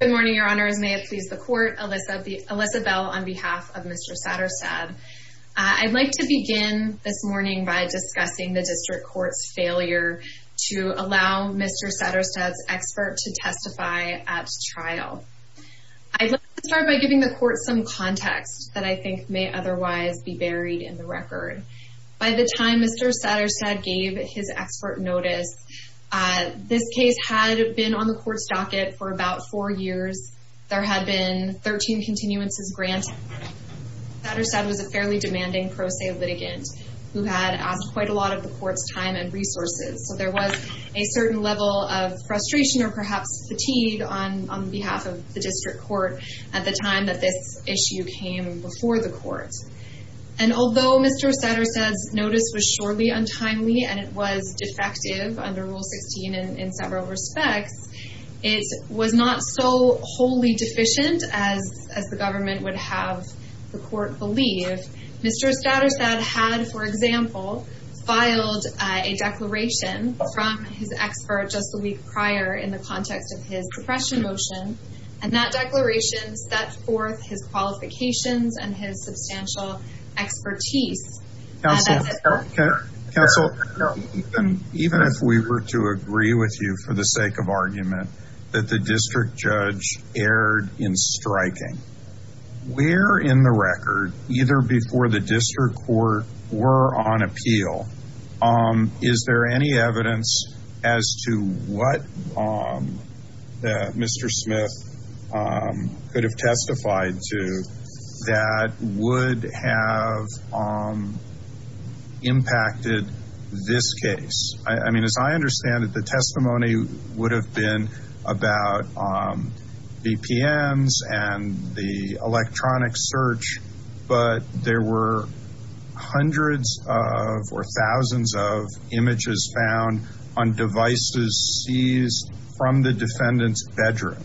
Good morning, your honors. May it please the court, Alyssa Bell on behalf of Mr. Saterstad. I'd like to begin this morning by discussing the district court's failure to allow Mr. Saterstad's expert to testify at trial. I'd like to start by giving the court some context that I think may otherwise be buried in the record. By the time Mr. Saterstad gave his expert notice, this case had been on the court's docket for about four years. There had been 13 continuances granted. Saterstad was a fairly demanding pro se litigant who had asked quite a lot of the court's time and resources. So there was a certain level of frustration or perhaps fatigue on behalf of the district court at the time that this issue came before the court. And although Mr. Saterstad's notice was surely untimely and it was defective under Rule 16 in several respects, it was not so wholly deficient as the government would have the court believe. Mr. Saterstad had, for example, filed a declaration from his expert just a week prior in the context of his suppression motion. And that declaration set forth his qualifications and his substantial expertise. Counsel, even if we were to agree with you for the sake of argument that the district judge erred in striking, where in the record, either before the district court were on appeal, is there any evidence as to what Mr. Smith could have testified to that would have impacted this case? I mean, as I understand it, the testimony would have been about VPNs and the electronic search, but there were hundreds of or thousands of images found on devices seized from the defendant's bedroom.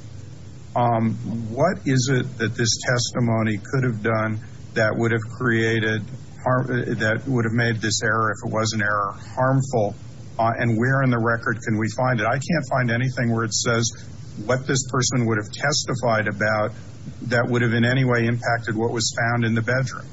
What is it that this testimony could have done that would have made this error, if it was an error, harmful? And where in the record can we find it? I can't find anything where it says what this person would have testified about that would have in any way impacted what was found in the bedroom.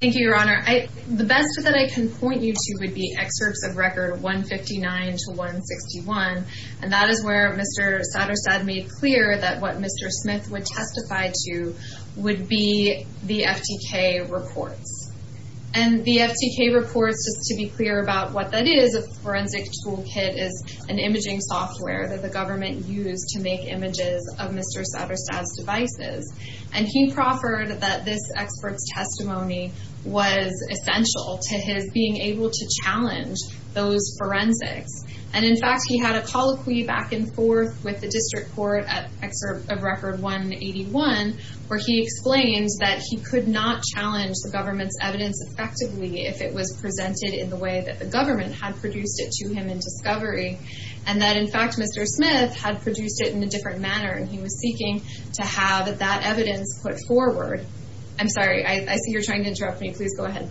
Thank you, Your Honor. The best that I can point you to would be excerpts of Record 159 to 161. And that is where Mr. Satterstad made clear that what Mr. Smith would testify to would be the FTK reports. And the FTK reports, just to be clear about what that is, a forensic toolkit is an imaging software that the government used to make images of Mr. Satterstad's devices. And he proffered that this expert's testimony was essential to his being able to challenge those forensics. And, in fact, he had a colloquy back and forth with the district court at Excerpt of Record 181, where he explains that he could not challenge the government's evidence effectively if it was presented in the way that the government had produced it to him in discovery. And that, in fact, Mr. Smith had produced it in a different manner, and he was seeking to have that evidence put forward. I'm sorry. I see you're trying to interrupt me. Please go ahead.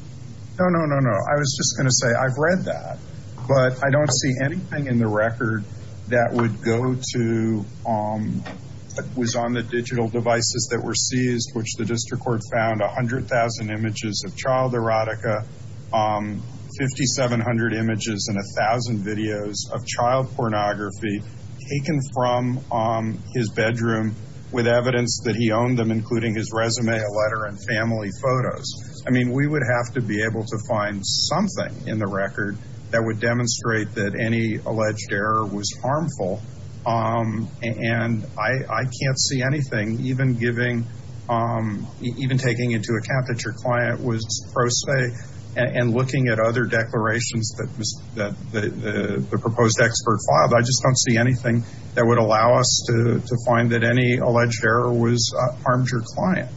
No, no, no, no. I was just going to say I've read that. But I don't see anything in the record that would go to what was on the digital devices that were seized, which the district court found 100,000 images of child erotica, 5,700 images and 1,000 videos of child pornography taken from his bedroom, with evidence that he owned them, including his resume, a letter, and family photos. I mean, we would have to be able to find something in the record that would demonstrate that any alleged error was harmful. And I can't see anything, even taking into account that your client was pro se and looking at other declarations that the proposed expert filed. I just don't see anything that would allow us to find that any alleged error harmed your client.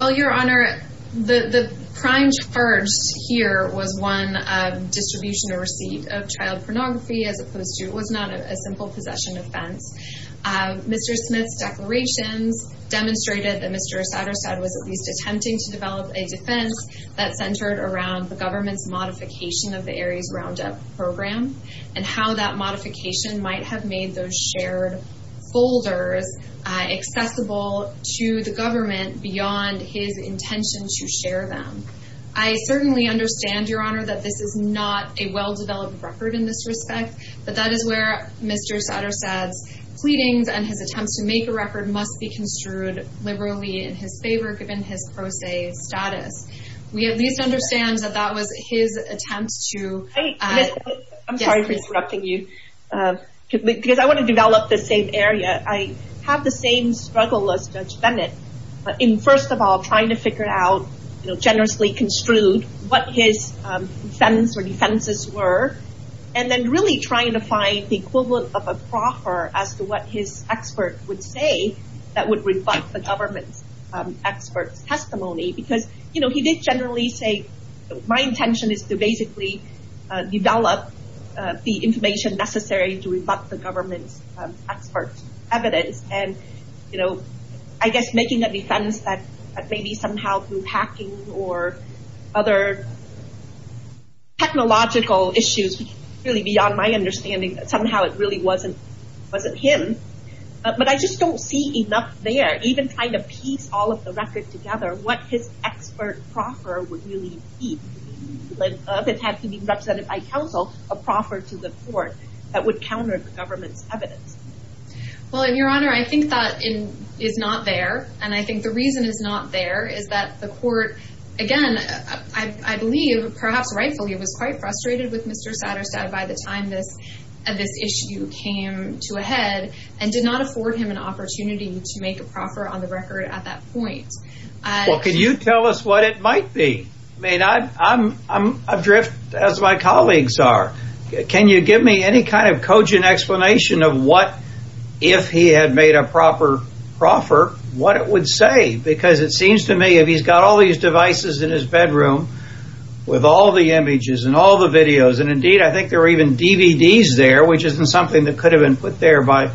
Well, Your Honor, the prime charge here was one of distribution or receipt of child pornography, as opposed to it was not a simple possession offense. Mr. Smith's declarations demonstrated that Mr. Satterstedt was at least attempting to develop a defense that centered around the government's modification of the Aries Roundup program and how that modification might have made those shared folders accessible to the government beyond his intention to share them. I certainly understand, Your Honor, that this is not a well-developed record in this respect, but that is where Mr. Satterstedt's pleadings and his attempts to make a record must be construed liberally in his favor, given his pro se status. We at least understand that that was his attempt to... I'm sorry for interrupting you, because I want to develop the same area. I have the same struggle as Judge Bennett in, first of all, trying to figure out, generously construed, what his defense or defenses were, and then really trying to find the equivalent of a proffer as to what his expert would say that would reflect the government's expert's testimony. He did generally say, my intention is to basically develop the information necessary to rebut the government's expert's evidence. I guess making a defense that maybe somehow through hacking or other technological issues, really beyond my understanding, that somehow it really wasn't him. But I just don't see enough there, even trying to piece all of the record together, what his expert proffer would really be. It had to be represented by counsel, a proffer to the court that would counter the government's evidence. Well, Your Honor, I think that is not there, and I think the reason it's not there is that the court, again, I believe, perhaps rightfully, was quite frustrated with Mr. Satterstad by the time this issue came to a head, and did not afford him an opportunity to make a proffer on the record at that point. Well, can you tell us what it might be? I mean, I'm adrift, as my colleagues are. Can you give me any kind of cogent explanation of what, if he had made a proper proffer, what it would say? Because it seems to me, if he's got all these devices in his bedroom, with all the images and all the videos, and indeed I think there were even DVDs there, which isn't something that could have been put there by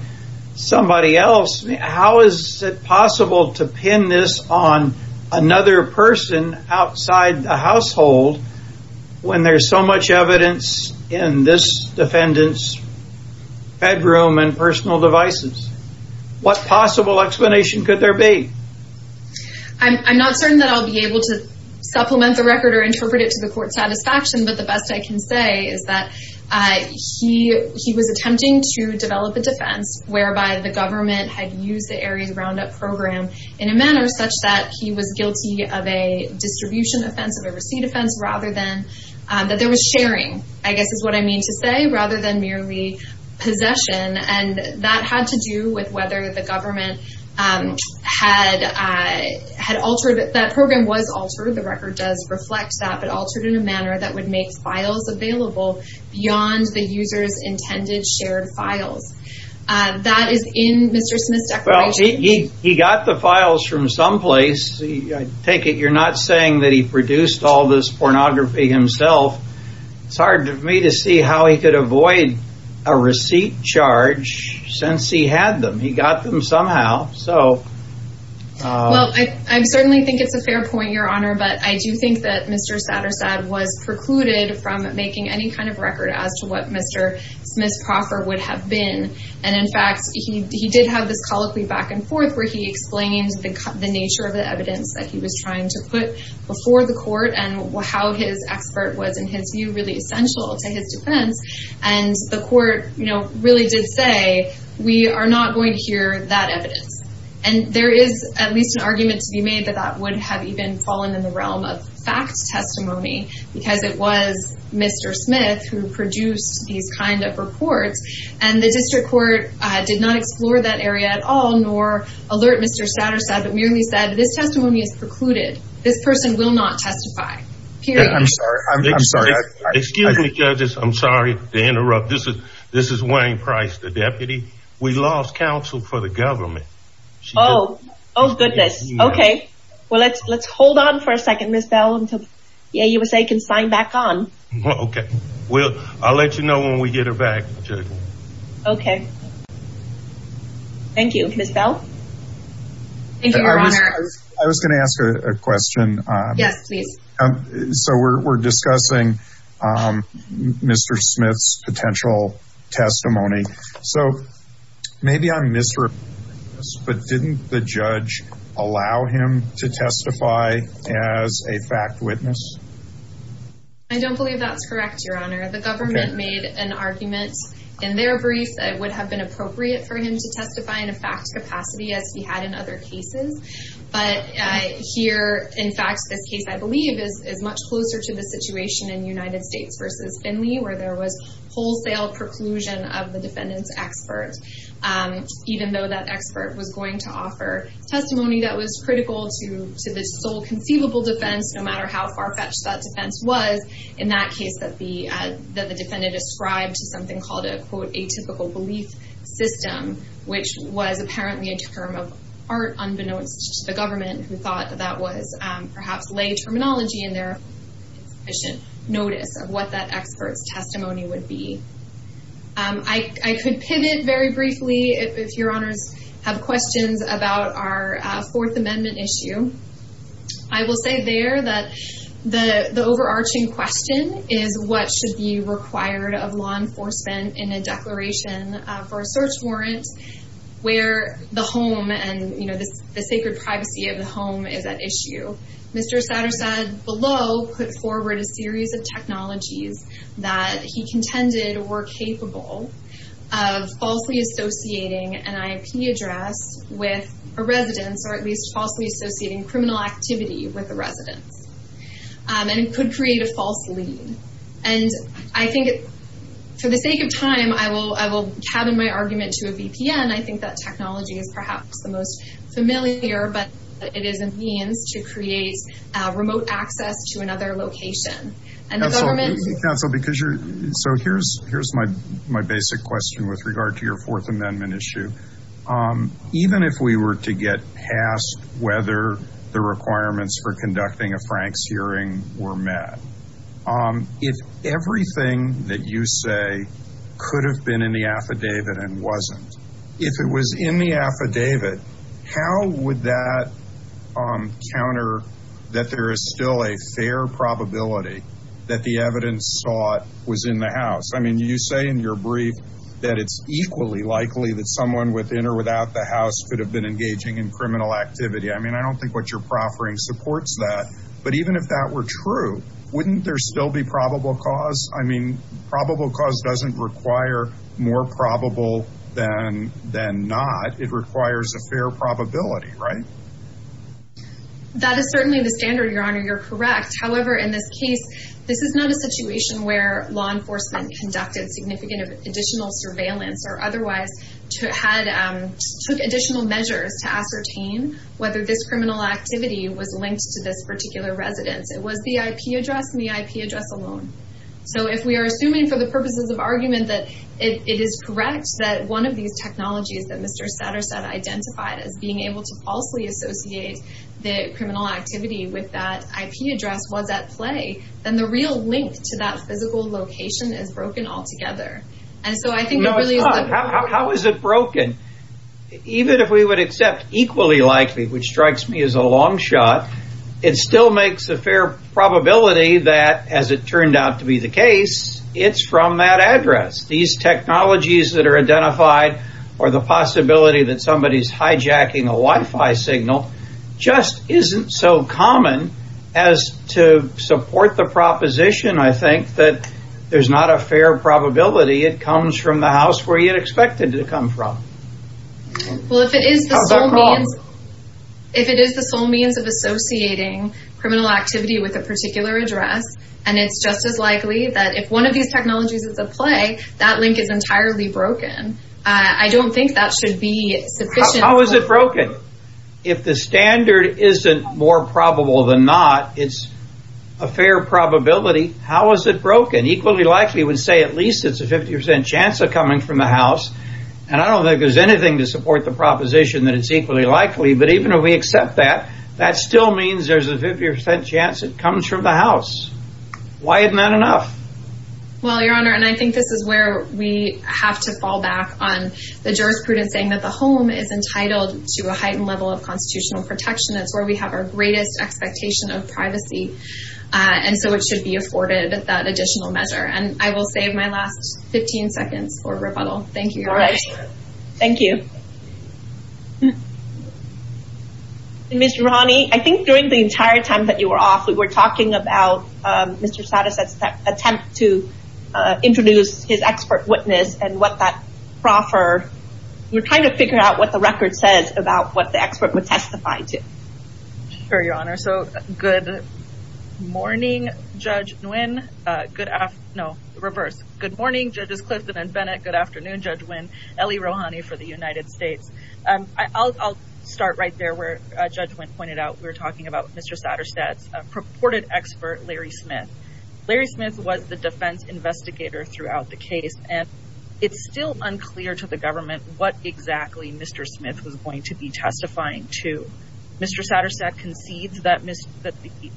somebody else, how is it possible to pin this on another person outside the household, when there's so much evidence in this defendant's bedroom and personal devices? What possible explanation could there be? I'm not certain that I'll be able to supplement the record or interpret it to the court's satisfaction, but the best I can say is that he was attempting to develop a defense, whereby the government had used the Aries Roundup program in a manner such that he was guilty of a distribution offense, of a receipt offense, rather than, that there was sharing, I guess is what I mean to say, rather than merely possession, and that had to do with whether the government had altered it. That program was altered, the record does reflect that, but altered in a manner that would make files available beyond the user's intended shared files. That is in Mr. Smith's declaration. Well, he got the files from someplace. I take it you're not saying that he produced all this pornography himself. It's hard for me to see how he could avoid a receipt charge since he had them. He got them somehow. Well, I certainly think it's a fair point, Your Honor, but I do think that Mr. Sattersad was precluded from making any kind of record as to what Mr. Smith's proffer would have been. And, in fact, he did have this colloquy back and forth, where he explained the nature of the evidence that he was trying to put before the court and how his expert was, in his view, really essential to his defense, and the court really did say, we are not going to hear that evidence. And there is at least an argument to be made that that would have even fallen in the realm of fact testimony, because it was Mr. Smith who produced these kind of reports, and the district court did not explore that area at all, nor alert Mr. Sattersad, but merely said, this testimony is precluded. This person will not testify. Period. I'm sorry. I'm sorry. Excuse me, judges. I'm sorry to interrupt. This is Wayne Price, the deputy. We lost counsel for the government. Oh, goodness. Okay. Well, let's hold on for a second, Ms. Bell, until the AUSA can sign back on. Okay. I'll let you know when we get her back, Judge. Okay. Thank you. Ms. Bell? Thank you, Your Honor. I was going to ask a question. Yes, please. So we're discussing Mr. Smith's potential testimony. So maybe I'm misrepresenting this, but didn't the judge allow him to testify as a fact witness? I don't believe that's correct, Your Honor. The government made an argument in their brief that it would have been appropriate for him to testify in a fact capacity as he had in other cases. But here, in fact, this case, I believe, is much closer to the situation in United States v. Finley, where there was wholesale preclusion of the defendant's expert, even though that expert was going to offer testimony that was critical to the sole conceivable defense, no matter how far-fetched that defense was, in that case that the defendant ascribed to something called a, quote, was apparently a term of art, unbeknownst to the government, who thought that that was perhaps lay terminology in their insufficient notice of what that expert's testimony would be. I could pivot very briefly if Your Honors have questions about our Fourth Amendment issue. I will say there that the overarching question is, what should be required of law enforcement in a declaration for a search warrant where the home and, you know, the sacred privacy of the home is at issue? Mr. Satterstad below put forward a series of technologies that he contended were capable of falsely associating an IP address with a residence, or at least falsely associating criminal activity with a residence. And it could create a false lead. And I think for the sake of time, I will cabin my argument to a VPN. I think that technology is perhaps the most familiar, but it is a means to create remote access to another location. And the government— Counsel, because you're—so here's my basic question with regard to your Fourth Amendment issue. Even if we were to get past whether the requirements for conducting a Frank's hearing were met, if everything that you say could have been in the affidavit and wasn't, if it was in the affidavit, how would that counter that there is still a fair probability that the evidence sought was in the house? I mean, you say in your brief that it's equally likely that someone within or without the house could have been engaging in criminal activity. I mean, I don't think what you're proffering supports that. But even if that were true, wouldn't there still be probable cause? I mean, probable cause doesn't require more probable than not. It requires a fair probability, right? That is certainly the standard, Your Honor. You're correct. However, in this case, this is not a situation where law enforcement conducted significant additional surveillance or otherwise took additional measures to ascertain whether this criminal activity was linked to this particular residence. It was the IP address and the IP address alone. So if we are assuming for the purposes of argument that it is correct that one of these technologies that Mr. Satterstedt identified as being able to falsely associate the criminal activity with that IP address was at play, then the real link to that physical location is broken altogether. And so I think it really is... No, it's not. How is it broken? Even if we would accept equally likely, which strikes me as a long shot, it still makes a fair probability that, as it turned out to be the case, it's from that address. These technologies that are identified or the possibility that somebody is hijacking a Wi-Fi signal just isn't so common as to support the proposition, I think, that there's not a fair probability it comes from the house where you'd expect it to come from. Well, if it is the sole means of associating criminal activity with a particular address, and it's just as likely that if one of these technologies is at play, that link is entirely broken. I don't think that should be sufficient... If the standard isn't more probable than not, it's a fair probability, how is it broken? Equally likely would say at least it's a 50% chance of coming from the house, and I don't think there's anything to support the proposition that it's equally likely, but even if we accept that, that still means there's a 50% chance it comes from the house. Why isn't that enough? Well, Your Honor, and I think this is where we have to fall back on the jurisprudence in saying that the home is entitled to a heightened level of constitutional protection. That's where we have our greatest expectation of privacy, and so it should be afforded that additional measure. And I will save my last 15 seconds for rebuttal. Thank you, Your Honor. Thank you. Ms. Rahani, I think during the entire time that you were off, we were talking about Mr. Sadas' attempt to introduce his expert witness and what that proffered. We're trying to figure out what the record says about what the expert would testify to. Sure, Your Honor. So good morning, Judge Nguyen. No, reverse. Good morning, Judges Clifton and Bennett. Good afternoon, Judge Nguyen, Ellie Rahani for the United States. I'll start right there where Judge Nguyen pointed out. We were talking about Mr. Sadas' purported expert, Larry Smith. Larry Smith was the defense investigator throughout the case, and it's still unclear to the government what exactly Mr. Smith was going to be testifying to. Mr. Sadas' concedes that the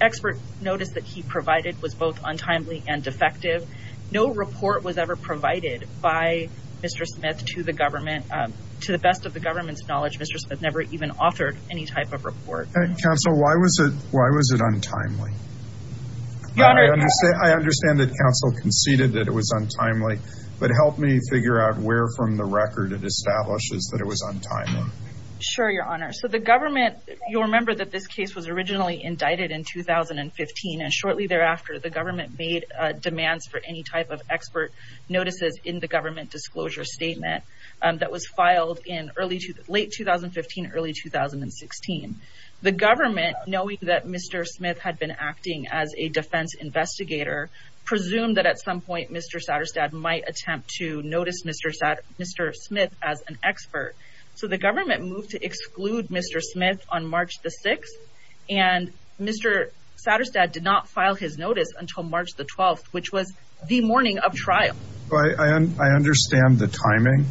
expert notice that he provided was both untimely and defective. No report was ever provided by Mr. Smith to the government. To the best of the government's knowledge, Mr. Smith never even authored any type of report. Counsel, why was it untimely? Your Honor. I understand that counsel conceded that it was untimely, but help me figure out where from the record it establishes that it was untimely. Sure, Your Honor. So the government, you'll remember that this case was originally indicted in 2015, and shortly thereafter the government made demands for any type of expert notices in the government disclosure statement that was filed in late 2015, early 2016. The government, knowing that Mr. Smith had been acting as a defense investigator, presumed that at some point Mr. Saderstad might attempt to notice Mr. Smith as an expert. So the government moved to exclude Mr. Smith on March the 6th, and Mr. Saderstad did not file his notice until March the 12th, which was the morning of trial. I understand the timing.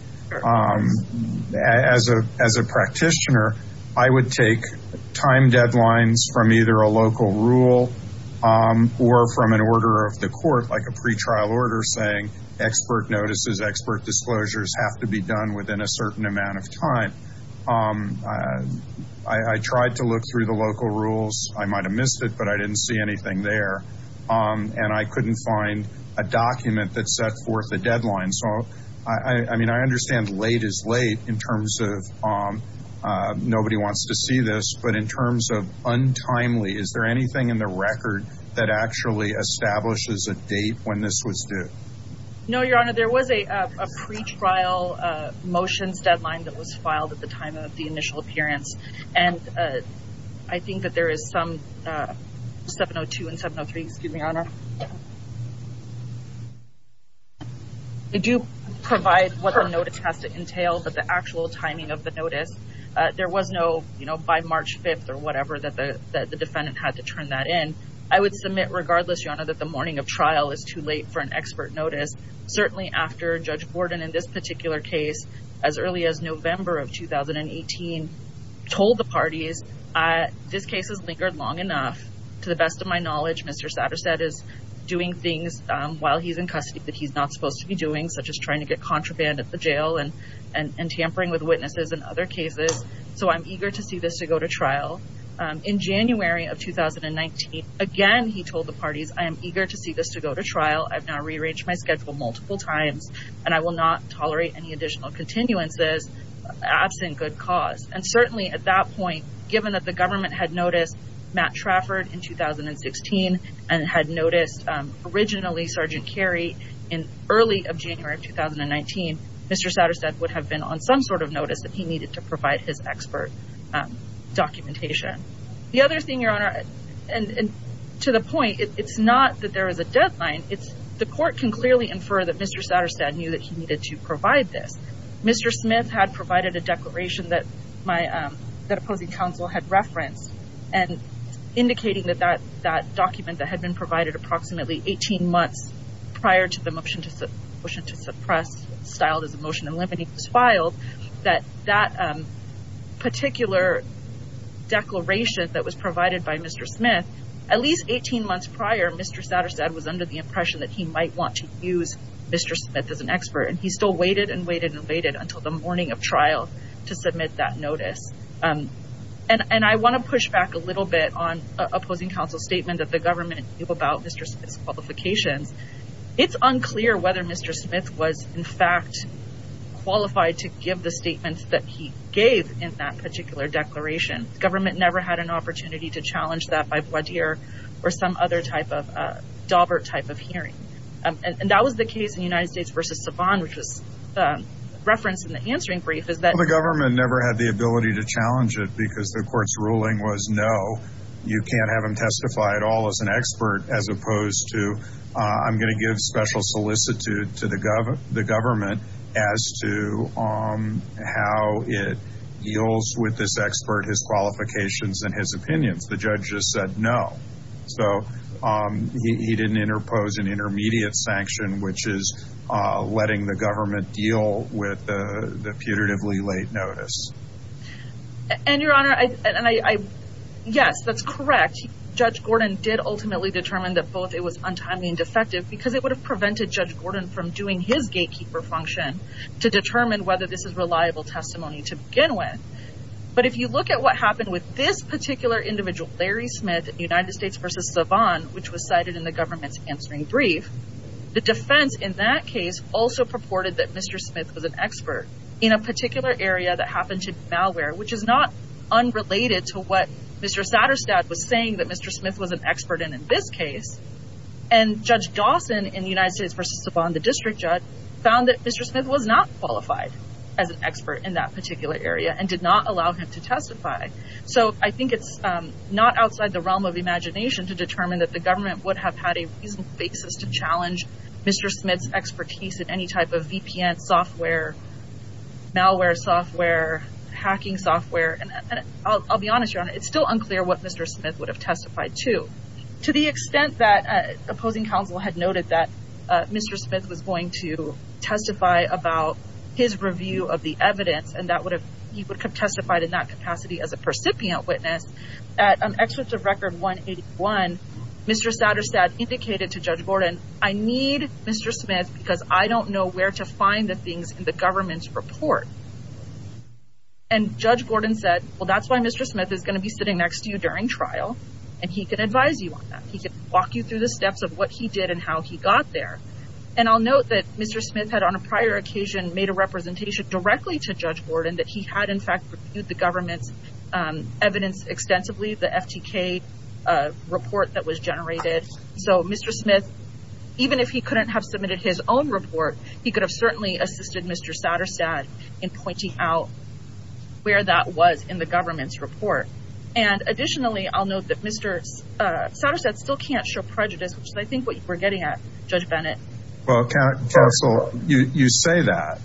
As a practitioner, I would take time deadlines from either a local rule or from an order of the court like a pretrial order saying expert notices, expert disclosures have to be done within a certain amount of time. I tried to look through the local rules. I might have missed it, but I didn't see anything there, and I couldn't find a document that set forth a deadline. I understand late is late in terms of nobody wants to see this, but in terms of untimely, is there anything in the record that actually establishes a date when this was due? No, Your Honor. There was a pretrial motions deadline that was filed at the time of the initial appearance, and I think that there is some 702 and 703. Excuse me, Your Honor. They do provide what the notice has to entail, but the actual timing of the notice, there was no by March 5th or whatever that the defendant had to turn that in. I would submit regardless, Your Honor, that the morning of trial is too late for an expert notice. Certainly after Judge Borden in this particular case, as early as November of 2018, told the parties, this case has lingered long enough. To the best of my knowledge, Mr. Satterstedt is doing things while he's in custody that he's not supposed to be doing, such as trying to get contraband at the jail and tampering with witnesses in other cases, so I'm eager to see this to go to trial. In January of 2019, again, he told the parties, I am eager to see this to go to trial. I've now rearranged my schedule multiple times, and I will not tolerate any additional continuances absent good cause. And certainly at that point, given that the government had noticed Matt Trafford in 2016 and had noticed originally Sergeant Carey in early of January of 2019, Mr. Satterstedt would have been on some sort of notice that he needed to provide his expert documentation. The other thing, Your Honor, and to the point, it's not that there is a deadline. It's the court can clearly infer that Mr. Satterstedt knew that he needed to provide this. Mr. Smith had provided a declaration that opposing counsel had referenced and indicating that that document that had been provided approximately 18 months prior to the motion to suppress, styled as a motion to eliminate, was filed, that that particular declaration that was provided by Mr. Smith, at least 18 months prior, Mr. Satterstedt was under the impression that he might want to use Mr. Smith as an expert, and he still waited and waited and waited until the morning of trial to submit that notice. And I want to push back a little bit on opposing counsel's statement that the government knew about Mr. Smith's qualifications. It's unclear whether Mr. Smith was, in fact, qualified to give the statements that he gave in that particular declaration. The government never had an opportunity to challenge that by voir dire or some other type of dauber type of hearing. And that was the case in United States v. Savant, which was referenced in the answering brief. The government never had the ability to challenge it because the court's ruling was, no, you can't have him testify at all as an expert, as opposed to I'm going to give special solicitude to the government as to how it deals with this expert, his qualifications, and his opinions. The judge just said no. So he didn't interpose an intermediate sanction, which is letting the government deal with the putatively late notice. And, Your Honor, yes, that's correct. Judge Gordon did ultimately determine that both it was untimely and defective because it would have prevented Judge Gordon from doing his gatekeeper function to determine whether this is reliable testimony to begin with. But if you look at what happened with this particular individual, Larry Smith, in United States v. Savant, which was cited in the government's answering brief, the defense in that case also purported that Mr. Smith was an expert in a particular area that happened to be malware, which is not unrelated to what Mr. Satterstad was saying that Mr. Smith was an expert in in this case. And Judge Dawson in United States v. Savant, the district judge, found that Mr. Smith was not qualified as an expert in that particular area and did not allow him to testify. So I think it's not outside the realm of imagination to determine that the government would have had a reasonable basis to challenge Mr. Smith's expertise in any type of VPN software, malware software, hacking software. And I'll be honest, Your Honor, it's still unclear what Mr. Smith would have testified to. To the extent that opposing counsel had noted that Mr. Smith was going to testify about his review of the evidence, and he would have testified in that capacity as a recipient witness, at an excerpt of Record 181, Mr. Satterstad indicated to Judge Gordon, I need Mr. Smith because I don't know where to find the things in the government's report. And Judge Gordon said, well, that's why Mr. Smith is going to be sitting next to you during trial, and he can advise you on that. He can walk you through the steps of what he did and how he got there. And I'll note that Mr. Smith had on a prior occasion made a representation directly to Judge Gordon that he had, in fact, reviewed the government's evidence extensively, the FTK report that was generated. So Mr. Smith, even if he couldn't have submitted his own report, he could have certainly assisted Mr. Satterstad in pointing out where that was in the government's report. And additionally, I'll note that Mr. Satterstad still can't show prejudice, which is, I think, what we're getting at, Judge Bennett. Well, counsel, you say that,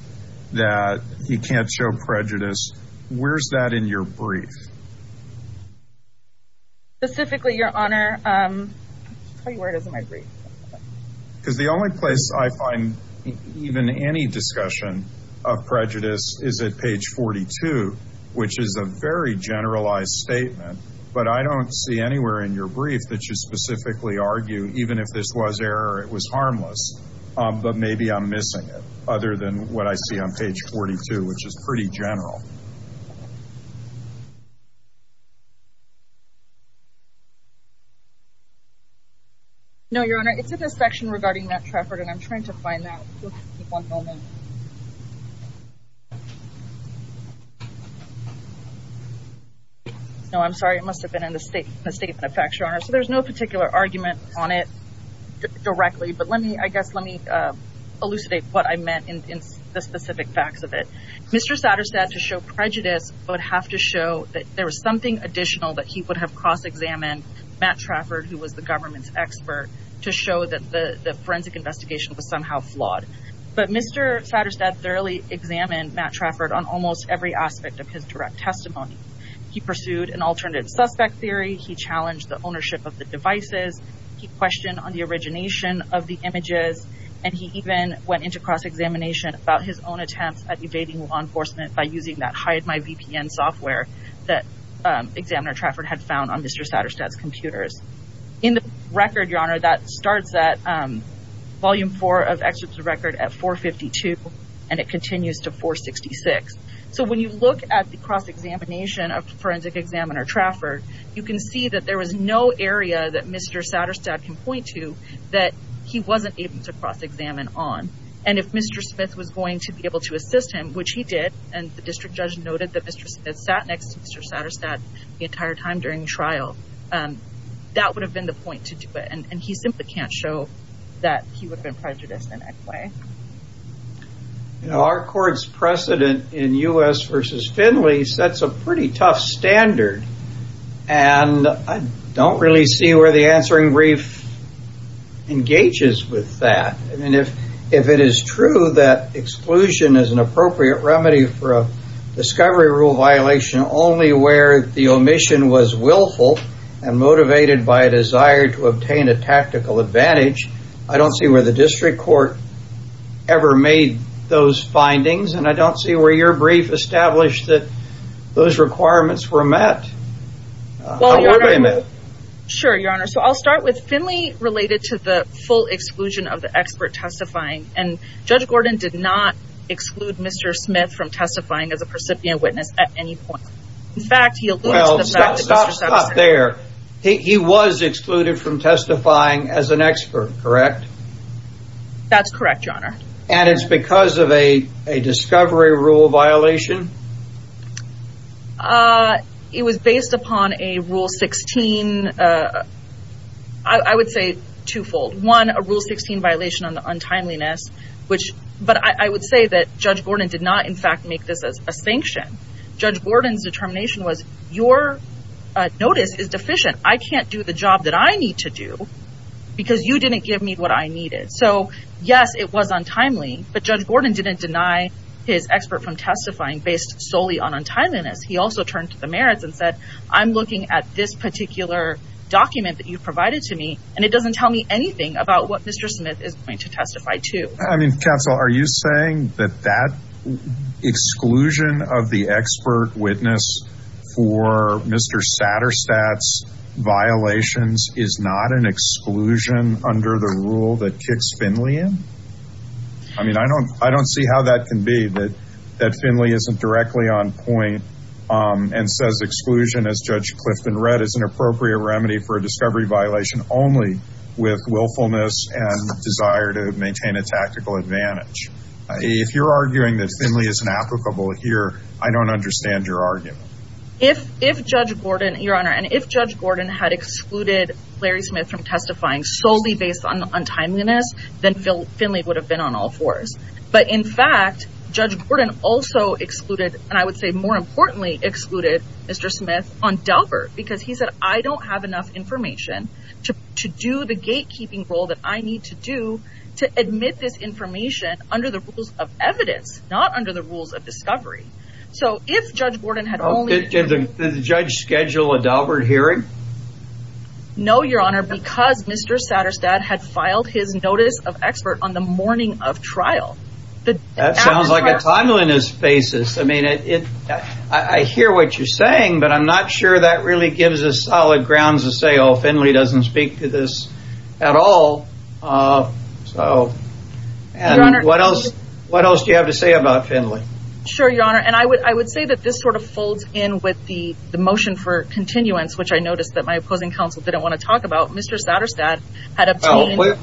that he can't show prejudice. Where's that in your brief? Specifically, Your Honor, where is it in my brief? Because the only place I find even any discussion of prejudice is at page 42, which is a very generalized statement. But I don't see anywhere in your brief that you specifically argue, even if this was error, it was harmless. But maybe I'm missing it, other than what I see on page 42, which is pretty general. No, Your Honor, it's in this section regarding Matt Trafford, and I'm trying to find that. No, I'm sorry. It must have been in the statement of facts, Your Honor. So there's no particular argument on it directly. But let me, I guess, let me elucidate what I meant in the specific facts of it. Mr. Satterstad, to show prejudice, would have to show that there was something additional that he would have cross-examined Matt Trafford, who was the government's expert, to show that the forensic investigation was somehow flawed. But Mr. Satterstad thoroughly examined Matt Trafford on almost every aspect of his direct testimony. He pursued an alternate suspect theory. He challenged the ownership of the devices. He questioned on the origination of the images. And he even went into cross-examination about his own attempts at evading law enforcement by using that Hide My VPN software that Examiner Trafford had found on Mr. Satterstad's computers. In the record, Your Honor, that starts at Volume 4 of Excerpt of Record at 452, and it continues to 466. So when you look at the cross-examination of Forensic Examiner Trafford, you can see that there was no area that Mr. Satterstad can point to that he wasn't able to cross-examine on. And if Mr. Smith was going to be able to assist him, which he did, and the district judge noted that Mr. Smith sat next to Mr. Satterstad the entire time during trial, that would have been the point to do it, and he simply can't show that he would have been prejudiced in any way. You know, our court's precedent in U.S. v. Finley sets a pretty tough standard, and I don't really see where the answering brief engages with that. And if it is true that exclusion is an appropriate remedy for a discovery rule violation only where the omission was willful and motivated by a desire to obtain a tactical advantage, I don't see where the district court ever made those findings, and I don't see where your brief established that those requirements were met. How were they met? Sure, Your Honor. So I'll start with Finley related to the full exclusion of the expert testifying, and Judge Gordon did not exclude Mr. Smith from testifying as a precipient witness at any point. Well, stop there. He was excluded from testifying as an expert, correct? That's correct, Your Honor. And it's because of a discovery rule violation? It was based upon a Rule 16, I would say twofold. One, a Rule 16 violation on the untimeliness, but I would say that Judge Gordon did not, in fact, make this a sanction. Judge Gordon's determination was, your notice is deficient. I can't do the job that I need to do because you didn't give me what I needed. So, yes, it was untimely, but Judge Gordon didn't deny his expert from testifying based solely on untimeliness. He also turned to the merits and said, I'm looking at this particular document that you provided to me, and it doesn't tell me anything about what Mr. Smith is going to testify to. I mean, counsel, are you saying that that exclusion of the expert witness for Mr. Satterstat's violations is not an exclusion under the rule that kicks Finley in? I mean, I don't see how that can be, that Finley isn't directly on point and says exclusion, as Judge Clifton read, is an appropriate remedy for a discovery violation only with willfulness and desire to maintain a tactical advantage. If you're arguing that Finley isn't applicable here, I don't understand your argument. If Judge Gordon, Your Honor, and if Judge Gordon had excluded Larry Smith from testifying solely based on untimeliness, then Finley would have been on all fours. But in fact, Judge Gordon also excluded, and I would say more importantly excluded, Mr. Smith on Delbert, because he said, I don't have enough information to do the gatekeeping role that I need to do to admit this information under the rules of evidence, not under the rules of discovery. So if Judge Gordon had only... Did the judge schedule a Delbert hearing? No, Your Honor, because Mr. Satterstad had filed his notice of expert on the morning of trial. That sounds like a timeliness basis. I mean, I hear what you're saying, but I'm not sure that really gives us solid grounds to say, oh, Finley doesn't speak to this at all. So, what else do you have to say about Finley? Sure, Your Honor, and I would say that this sort of folds in with the motion for continuance, which I noticed that my opposing counsel didn't want to talk about. Mr. Satterstad had obtained... Well,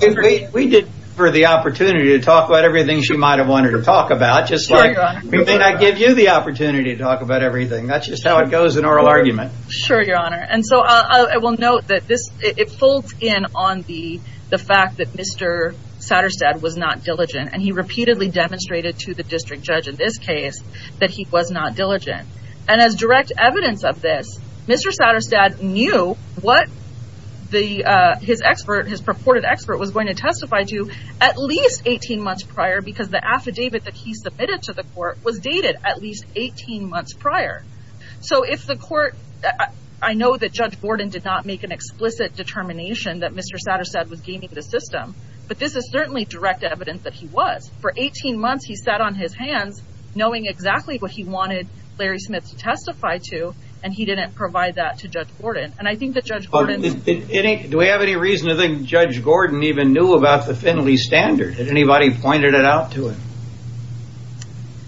we did give her the opportunity to talk about everything she might have wanted to talk about, just like we may not give you the opportunity to talk about everything. That's just how it goes in oral argument. Sure, Your Honor, and so I will note that it folds in on the fact that Mr. Satterstad was not diligent, and he repeatedly demonstrated to the district judge in this case that he was not diligent. And as direct evidence of this, Mr. Satterstad knew what his expert, his purported expert, was going to testify to at least 18 months prior, because the affidavit that he submitted to the court was dated at least 18 months prior. So, if the court... I know that Judge Gordon did not make an explicit determination that Mr. Satterstad was gaming the system, but this is certainly direct evidence that he was. For 18 months, he sat on his hands knowing exactly what he wanted Larry Smith to testify to, and he didn't provide that to Judge Gordon. And I think that Judge Gordon... Do we have any reason to think Judge Gordon even knew about the Finley standard? Did anybody point it out to him?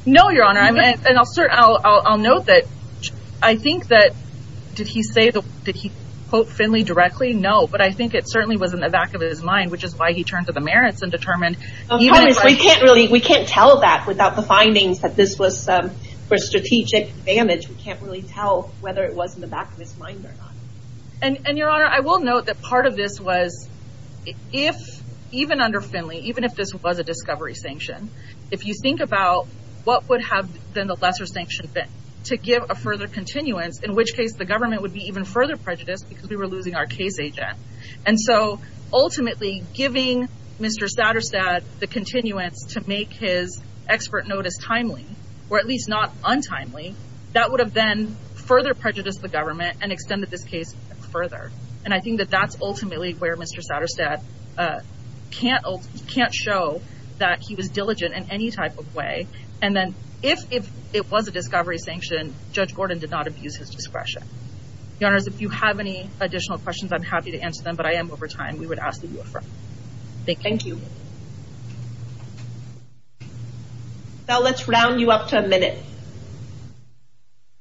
No, Your Honor, and I'll note that I think that... Did he quote Finley directly? No. But I think it certainly was in the back of his mind, which is why he turned to the merits and determined... We can't tell that without the findings that this was for strategic advantage. We can't really tell whether it was in the back of his mind or not. And, Your Honor, I will note that part of this was... Even under Finley, even if this was a discovery sanction, if you think about what would have been the lesser sanction been to give a further continuance, in which case the government would be even further prejudiced because we were losing our case agent. And so, ultimately, giving Mr. Satterstad the continuance to make his expert notice timely, or at least not untimely, that would have then further prejudiced the government and extended this case further. And I think that that's ultimately where Mr. Satterstad can't show that he was diligent in any type of way. And then if it was a discovery sanction, Judge Gordon did not abuse his discretion. Your Honors, if you have any additional questions, I'm happy to answer them, but I am over time. We would ask that you refrain. Thank you. Thank you. Now let's round you up to a minute.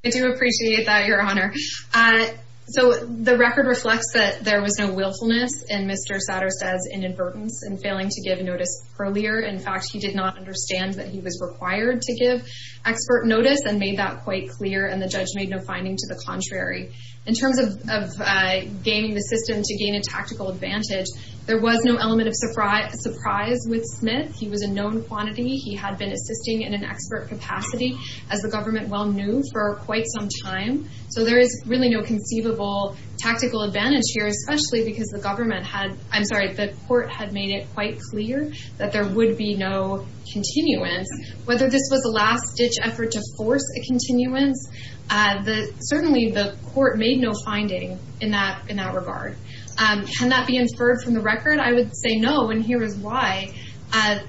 I do appreciate that, Your Honor. So the record reflects that there was no willfulness in Mr. Satterstad's inadvertence in failing to give notice earlier. In fact, he did not understand that he was required to give expert notice and made that quite clear, and the judge made no finding to the contrary. In terms of gaining the system to gain a tactical advantage, there was no element of surprise with Smith. He was a known quantity. He had been assisting in an expert capacity, as the government well knew, for quite some time. So there is really no conceivable tactical advantage here, especially because the court had made it quite clear that there would be no continuance. Whether this was a last-ditch effort to force a continuance, certainly the court made no finding in that regard. Can that be inferred from the record? I would say no, and here is why. Mr.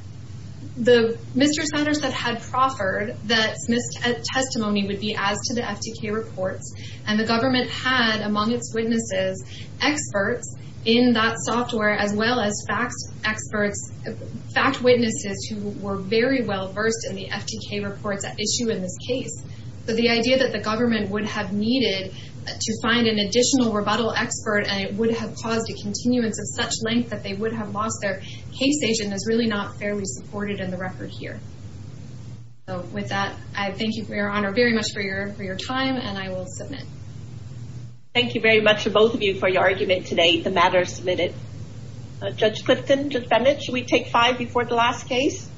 Satterstad had proffered that Smith's testimony would be as to the FTK reports, and the government had, among its witnesses, experts in that software, as well as fact witnesses who were very well versed in the FTK reports at issue in this case. So the idea that the government would have needed to find an additional rebuttal expert and it would have caused a continuance of such length that they would have lost their case agent is really not fairly supported in the record here. With that, I thank you, Your Honor, very much for your time, and I will submit. Thank you very much to both of you for your argument today. The matter is submitted. Judge Clifton, Judge Bennett, should we take five before the last case?